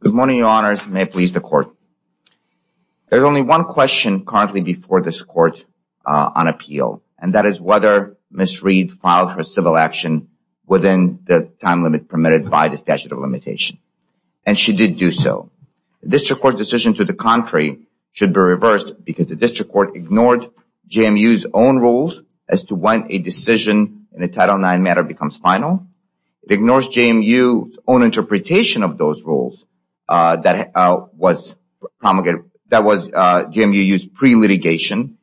Good morning, your honors. May it please the court. There is only one question currently before this court on appeal. And that is whether Ms. Reid filed her civil action within the time limit permitted by the statute of limitation. And she did do so. The district court's decision to the contrary should be reversed because the district court ignored JMU's own rules as to when a decision in a Title IX matter becomes final. It ignores JMU's own interpretation of those rules that was JMU's pre-litigation.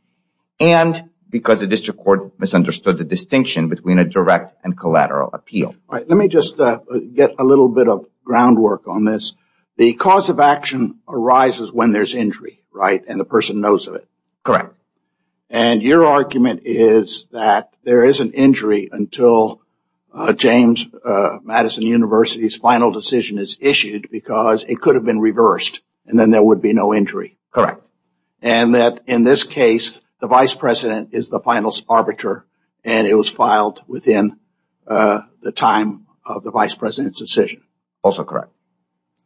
And because the district court misunderstood the distinction between a direct and collateral appeal. All right, let me just get a little bit of groundwork on this. The cause of action arises when there's injury, right, and the person knows of it. Correct. And your argument is that there is an injury until James Madison University's final decision is issued because it could have been reversed and then there would be no injury. Correct. And that in this case, the vice president is the final arbiter and it was filed within the time of the vice president's decision. Also correct.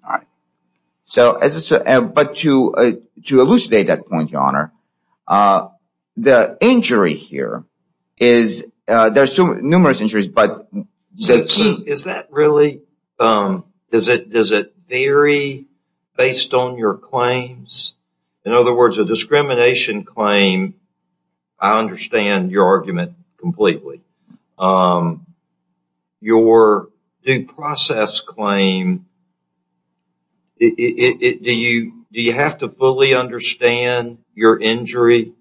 All right. But to elucidate that point, Your Honor, the injury here is, there's numerous injuries, but the key. Is that really, does it vary based on your claims? In other words, a discrimination claim, I understand your argument completely. Your due process claim, do you have to fully understand your injury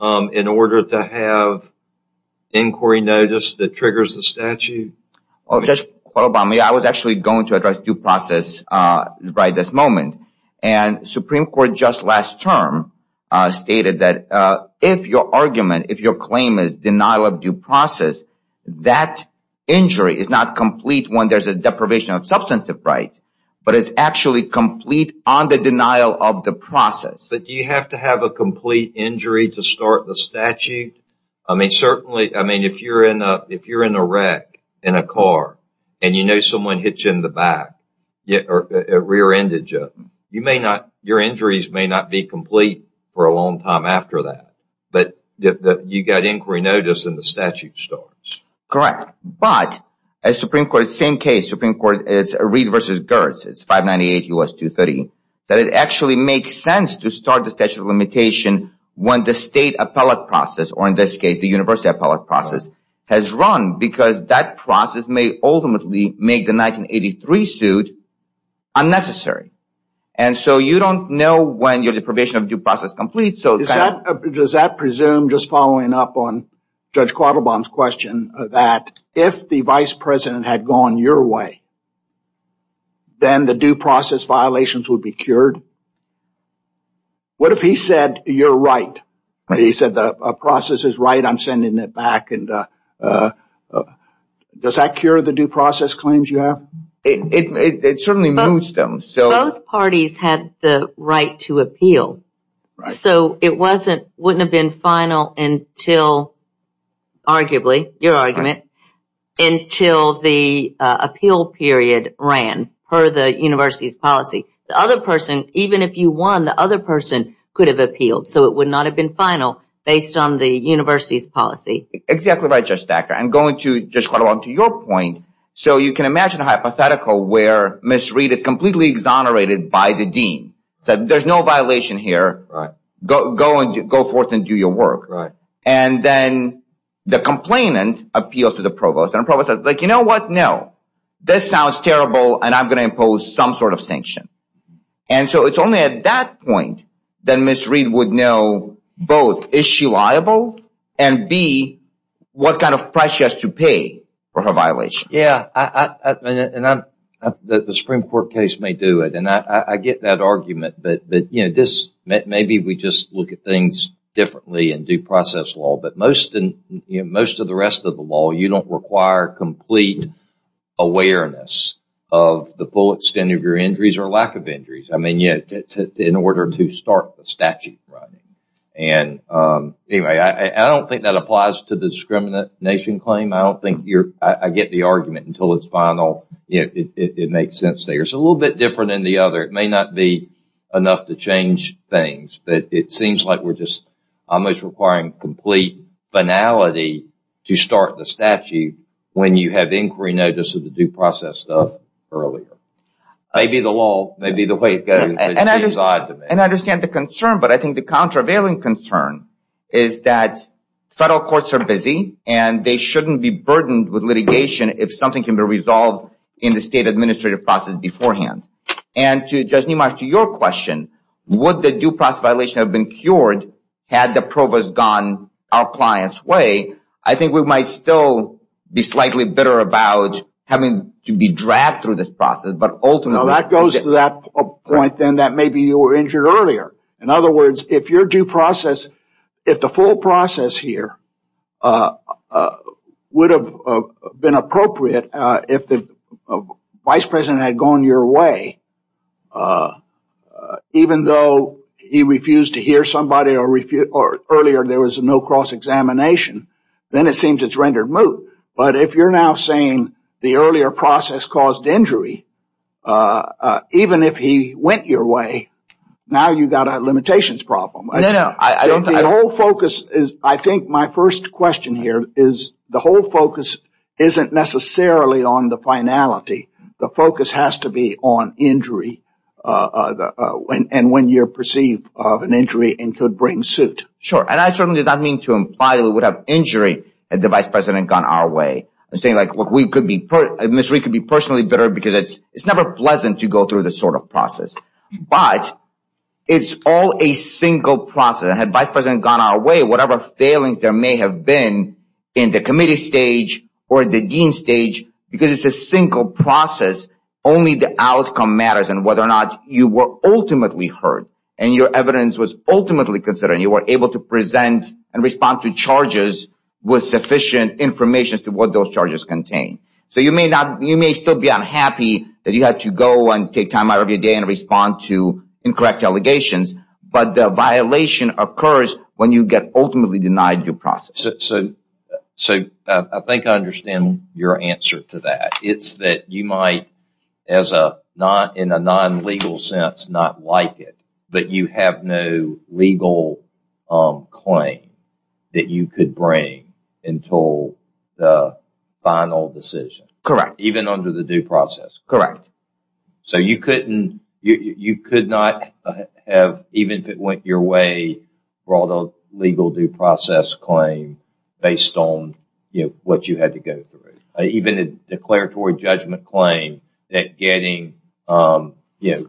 in order to have inquiry notice that triggers the statute? Just a moment, I was actually going to address due process right this moment. And Supreme Court just last term stated that if your argument, if your claim is denial of due process, that injury is not complete when there's a deprivation of substantive right, but it's actually complete on the denial of the process. But do you have to have a complete injury to start the statute? I mean, certainly, I mean, if you're in a wreck in a car and you know someone hits you in the back or rear-ended you, you may not, your injuries may not be complete for a long time after that. But you got inquiry notice and the statute starts. Correct. But as Supreme Court, same case, Supreme Court is Reed v. Gertz. It's 598 U.S. 230. That it actually makes sense to start the statute of limitation when the state appellate process, or in this case, the university appellate process, has run because that process may ultimately make the 1983 suit unnecessary. And so you don't know when your deprivation of due process is complete. Does that presume, just following up on Judge Quattlebaum's question, that if the vice president had gone your way, then the due process violations would be cured? What if he said, you're right? He said the process is right, I'm sending it back. Does that cure the due process claims you have? It certainly moves them. Both parties had the right to appeal. So it wouldn't have been final until, arguably, your argument, until the appeal period ran per the university's policy. The other person, even if you won, the other person could have appealed. So it would not have been final based on the university's policy. Exactly right, Judge Thacker. I'm going to, Judge Quattlebaum, to your point. So you can imagine a hypothetical where Ms. Reed is completely exonerated by the dean. There's no violation here. Go forth and do your work. And then the complainant appeals to the provost. And the provost says, you know what, no. This sounds terrible and I'm going to impose some sort of sanction. And so it's only at that point that Ms. Reed would know both, is she liable? And B, what kind of price she has to pay for her violation. Yeah, and the Supreme Court case may do it. And I get that argument, but maybe we just look at things differently in due process law. But most of the rest of the law, you don't require complete awareness of the full extent of your injuries or lack of injuries. I mean, in order to start the statute. And anyway, I don't think that applies to the discrimination claim. I get the argument until it's final. It makes sense there. It's a little bit different than the other. It may not be enough to change things. But it seems like we're just almost requiring complete banality to start the statute when you have inquiry notice of the due process stuff earlier. Maybe the law, maybe the way it goes. And I understand the concern, but I think the countervailing concern is that federal courts are busy. And they shouldn't be burdened with litigation if something can be resolved in the state administrative process beforehand. And to Judge Nemarch, to your question, would the due process violation have been cured had the provost gone our client's way? I think we might still be slightly bitter about having to be dragged through this process, but ultimately. Well, that goes to that point, then, that maybe you were injured earlier. In other words, if your due process, if the full process here would have been appropriate if the vice president had gone your way, even though he refused to hear somebody or earlier there was no cross-examination, then it seems it's rendered moot. But if you're now saying the earlier process caused injury, even if he went your way, now you've got a limitations problem. I think my first question here is the whole focus isn't necessarily on the finality. The focus has to be on injury and when you're perceived of an injury and could bring suit. Sure, and I certainly do not mean to imply we would have injury had the vice president gone our way. I'm saying, look, Ms. Reed could be personally bitter because it's never pleasant to go through this sort of process. But it's all a single process. And had vice president gone our way, whatever failings there may have been in the committee stage or the dean stage, because it's a single process, only the outcome matters and whether or not you were ultimately heard and your evidence was ultimately considered and you were able to present and respond to charges with sufficient information as to what those charges contained. So you may still be unhappy that you had to go and take time out of your day and respond to incorrect allegations, but the violation occurs when you get ultimately denied due process. So I think I understand your answer to that. It's that you might, in a non-legal sense, not like it, but you have no legal claim that you could bring until the final decision. Correct. Even under the due process. Correct. So you could not have, even if it went your way, brought a legal due process claim based on what you had to go through. Even a declaratory judgment claim that getting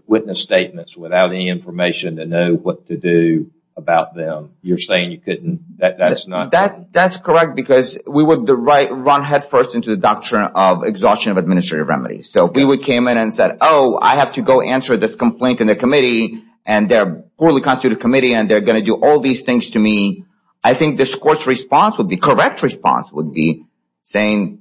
witness statements without any information to know what to do about them, you're saying you couldn't? That's correct because we would run headfirst into the doctrine of exhaustion of administrative remedies. So we would come in and say, oh, I have to go answer this complaint in the committee and they're a poorly constituted committee and they're going to do all these things to me. I think this court's response would be, correct response would be, saying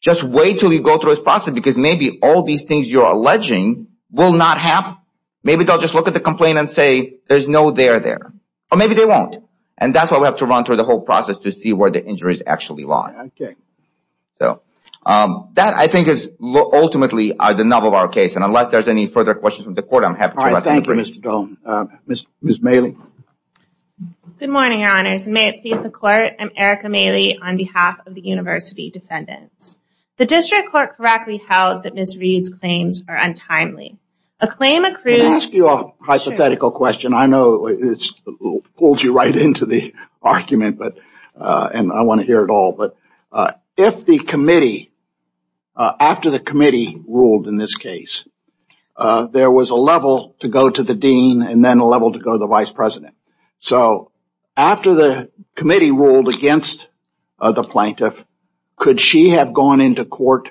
just wait until you go through this process because maybe all these things you're alleging will not happen. Maybe they'll just look at the complaint and say there's no there there. Or maybe they won't. And that's why we have to run through the whole process to see where the injury is actually lying. Okay. That, I think, is ultimately the nub of our case. And unless there's any further questions from the court, I'm happy to answer them. All right, thank you, Mr. Doan. Ms. Maley? Good morning, Your Honors. May it please the Court, I'm Erica Maley on behalf of the University Defendants. The district court correctly held that Ms. Reed's claims are untimely. A claim accrues- Can I ask you a hypothetical question? I know it pulls you right into the argument and I want to hear it all. But if the committee, after the committee ruled in this case, there was a level to go to the dean and then a level to go to the vice president. So after the committee ruled against the plaintiff, could she have gone into court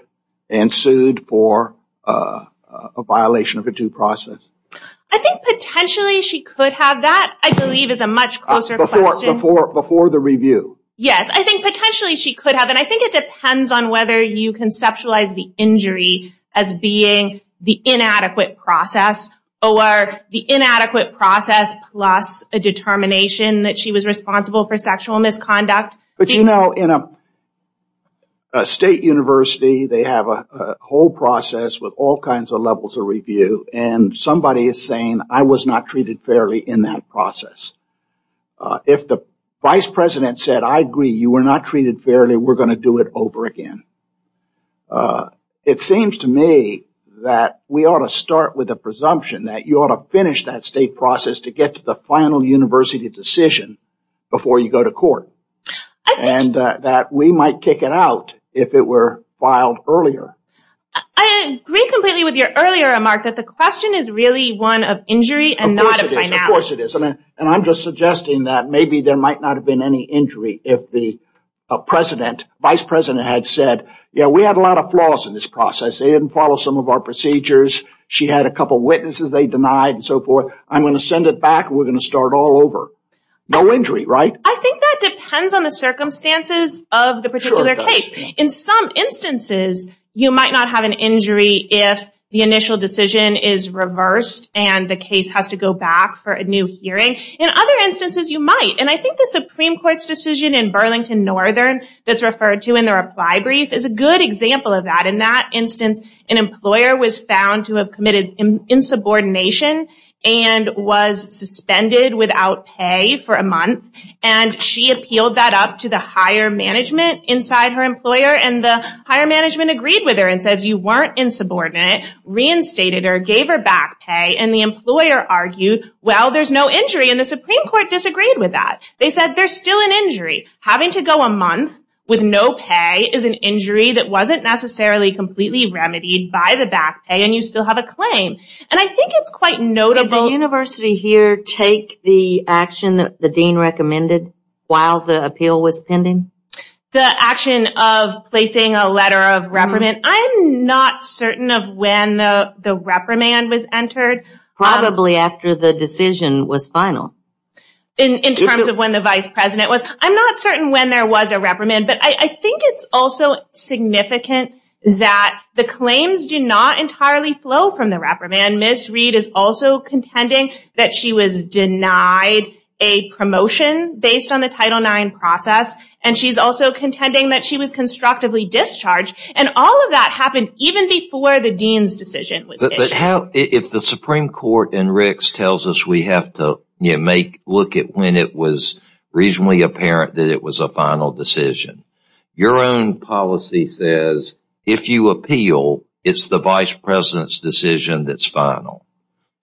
and sued for a violation of a due process? I think potentially she could have. That, I believe, is a much closer question. Before the review? Yes, I think potentially she could have. And I think it depends on whether you conceptualize the injury as being the inadequate process or the inadequate process plus a determination that she was responsible for sexual misconduct. But, you know, in a state university, they have a whole process with all kinds of levels of review. And somebody is saying, I was not treated fairly in that process. If the vice president said, I agree, you were not treated fairly, we're going to do it over again. It seems to me that we ought to start with a presumption that you ought to finish that state process to get to the final university decision before you go to court. And that we might kick it out if it were filed earlier. I agree completely with your earlier remark that the question is really one of injury and not a finality. Of course it is. And I'm just suggesting that maybe there might not have been any injury if the vice president had said, yeah, we had a lot of flaws in this process. They didn't follow some of our procedures. She had a couple of witnesses they denied and so forth. I'm going to send it back and we're going to start all over. No injury, right? I think that depends on the circumstances of the particular case. In some instances, you might not have an injury if the initial decision is reversed and the case has to go back for a new hearing. In other instances, you might. And I think the Supreme Court's decision in Burlington Northern that's referred to in the reply brief is a good example of that. In that instance, an employer was found to have committed insubordination and was suspended without pay for a month. And she appealed that up to the higher management inside her employer. And the higher management agreed with her and says, you weren't insubordinate, reinstated her, gave her back pay, and the employer argued, well, there's no injury, and the Supreme Court disagreed with that. They said there's still an injury. Having to go a month with no pay is an injury that wasn't necessarily completely remedied by the back pay and you still have a claim. And I think it's quite notable. Did the university here take the action that the dean recommended while the appeal was pending? The action of placing a letter of reprimand? I'm not certain of when the reprimand was entered. Probably after the decision was final. In terms of when the vice president was? I'm not certain when there was a reprimand. But I think it's also significant that the claims do not entirely flow from the reprimand. Ms. Reed is also contending that she was denied a promotion based on the Title IX process. And she's also contending that she was constructively discharged. And all of that happened even before the dean's decision was issued. If the Supreme Court in Ricks tells us we have to look at when it was reasonably apparent that it was a final decision, your own policy says if you appeal, it's the vice president's decision that's final.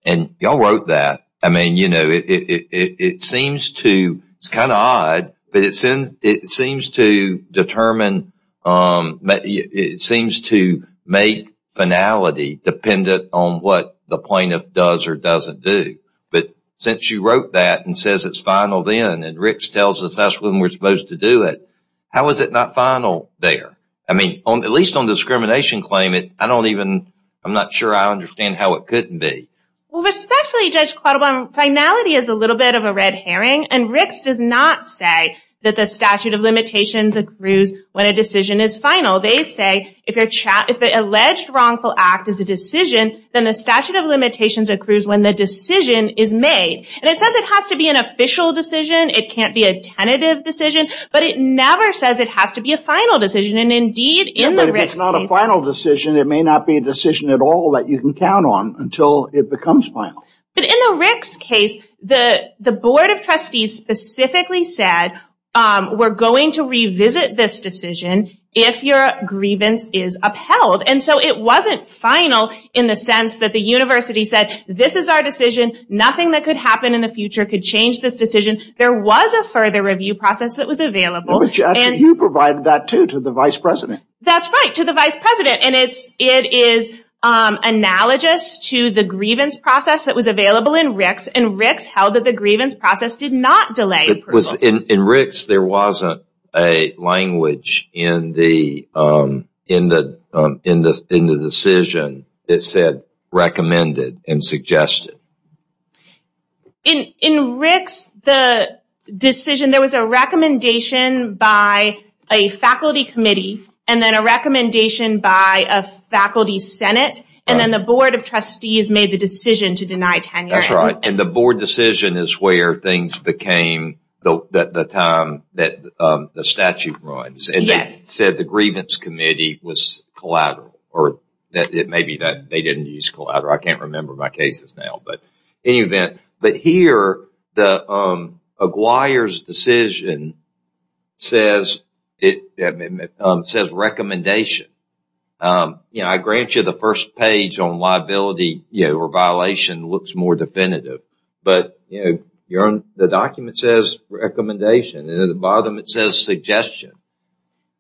And y'all wrote that. I mean, you know, it seems to, it's kind of odd, but it seems to determine, it seems to make finality dependent on what the plaintiff does or doesn't do. But since you wrote that and says it's final then, and Ricks tells us that's when we're supposed to do it, how is it not final there? I mean, at least on discrimination claim, I don't even, I'm not sure I understand how it couldn't be. Well, respectfully, Judge Quattlebaum, finality is a little bit of a red herring. And Ricks does not say that the statute of limitations accrues when a decision is final. They say if an alleged wrongful act is a decision, then the statute of limitations accrues when the decision is made. And it says it has to be an official decision. It can't be a tentative decision. But it never says it has to be a final decision. But if it's not a final decision, it may not be a decision at all that you can count on until it becomes final. But in the Ricks case, the board of trustees specifically said, we're going to revisit this decision if your grievance is upheld. And so it wasn't final in the sense that the university said, this is our decision, nothing that could happen in the future could change this decision. There was a further review process that was available. You provided that, too, to the vice president. That's right, to the vice president. And it is analogous to the grievance process that was available in Ricks. And Ricks held that the grievance process did not delay approval. In Ricks, there wasn't a language in the decision that said recommended and suggested. In Ricks, the decision, there was a recommendation by a faculty committee and then a recommendation by a faculty senate. And then the board of trustees made the decision to deny tenure. That's right. And the board decision is where things became the time that the statute runs. And they said the grievance committee was collateral. Or it may be that they didn't use collateral. I can't remember my cases now. But here, Aguirre's decision says recommendation. I grant you the first page on liability or violation looks more definitive. But the document says recommendation, and at the bottom it says suggestion.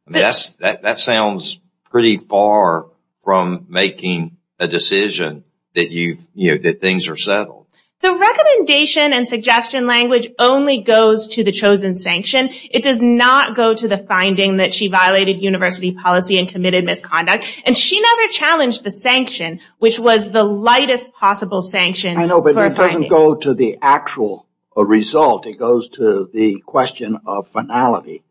That sounds pretty far from making a decision that things are settled. The recommendation and suggestion language only goes to the chosen sanction. It does not go to the finding that she violated university policy and committed misconduct. And she never challenged the sanction, which was the lightest possible sanction. I know, but it doesn't go to the actual result. It goes to the question of finality.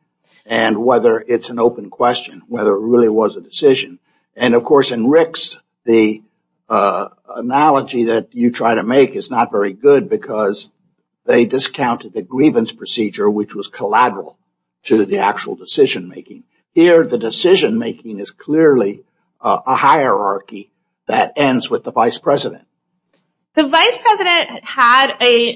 And whether it's an open question, whether it really was a decision. And, of course, in Rick's, the analogy that you try to make is not very good because they discounted the grievance procedure, which was collateral to the actual decision-making. Here, the decision-making is clearly a hierarchy that ends with the vice president. The vice president had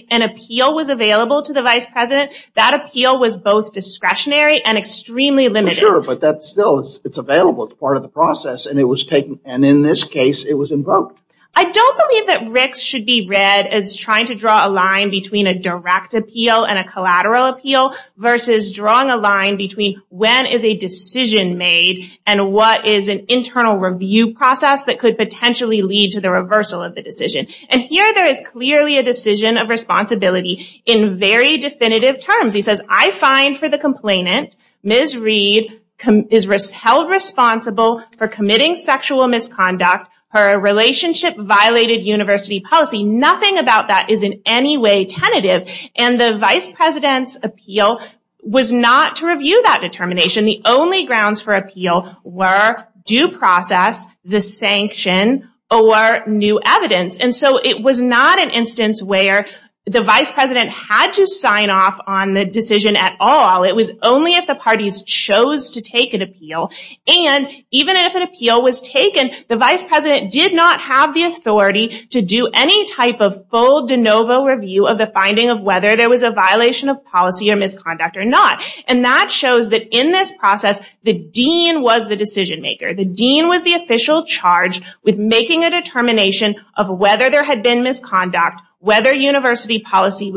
an appeal was available to the vice president. That appeal was both discretionary and extremely limited. Sure, but still it's available. It's part of the process. And in this case, it was invoked. I don't believe that Rick's should be read as trying to draw a line between a direct appeal and a collateral appeal versus drawing a line between when is a decision made and what is an internal review process that could potentially lead to the reversal of the decision. And here, there is clearly a decision of responsibility in very definitive terms. He says, I find for the complainant, Ms. Reed is held responsible for committing sexual misconduct. Her relationship violated university policy. Nothing about that is in any way tentative. And the vice president's appeal was not to review that determination. The only grounds for appeal were due process, the sanction, or new evidence. And so it was not an instance where the vice president had to sign off on the decision at all. It was only if the parties chose to take an appeal. And even if an appeal was taken, the vice president did not have the authority to do any type of full de novo review of the finding of whether there was a violation of policy or misconduct or not. And that shows that in this process, the dean was the decision maker. The dean was the official charged with making a determination of whether there had been misconduct, whether university policy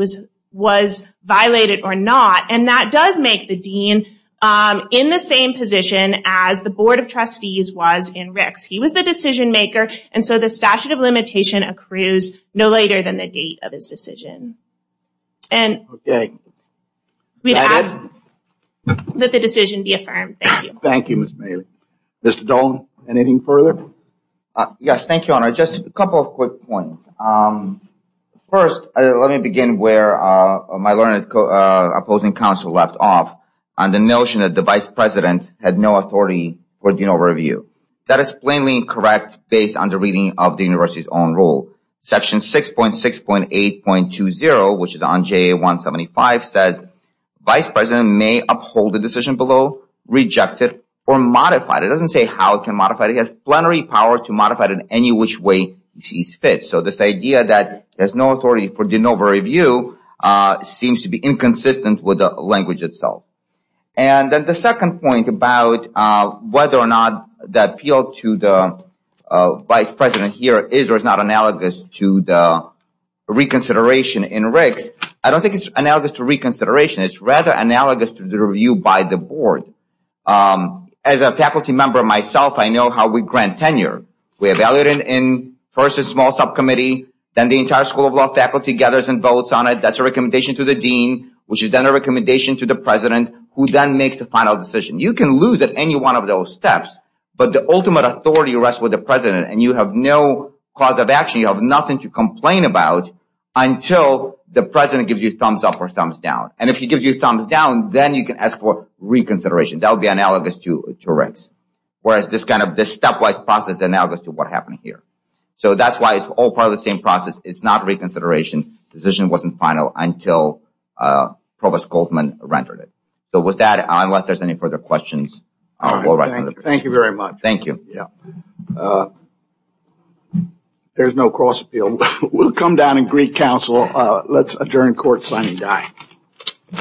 was violated or not. And that does make the dean in the same position as the board of trustees was in Rick's. He was the decision maker. And so the statute of limitation accrues no later than the date of his decision. And we'd ask that the decision be affirmed. Thank you. Thank you, Ms. Mailey. Mr. Doan, anything further? Yes, thank you, Honor. Just a couple of quick points. First, let me begin where my learned opposing counsel left off on the notion that the vice president had no authority for de novo review. That is plainly incorrect based on the reading of the university's own rule. Section 6.6.8.20, which is on JA 175, says vice president may uphold the decision below, reject it, or modify it. It doesn't say how it can modify it. It has plenary power to modify it in any which way it sees fit. So this idea that there's no authority for de novo review seems to be inconsistent with the language itself. And then the second point about whether or not the appeal to the vice president here is or is not analogous to the reconsideration in RICS, I don't think it's analogous to reconsideration. It's rather analogous to the review by the board. As a faculty member myself, I know how we grant tenure. We evaluate it in first a small subcommittee. Then the entire School of Law faculty gathers and votes on it. That's a recommendation to the dean, which is then a recommendation to the president, who then makes a final decision. You can lose at any one of those steps, but the ultimate authority rests with the president, and you have no cause of action. You have nothing to complain about until the president gives you thumbs up or thumbs down. And if he gives you thumbs down, then you can ask for reconsideration. That would be analogous to RICS, whereas this stepwise process is analogous to what happened here. So that's why it's all part of the same process. It's not reconsideration. The decision wasn't final until Provost Goldman rendered it. So with that, unless there's any further questions, we'll wrap up. Thank you very much. Thank you. There's no cross-appeal. We'll come down and greet counsel. Let's adjourn court, sign and die.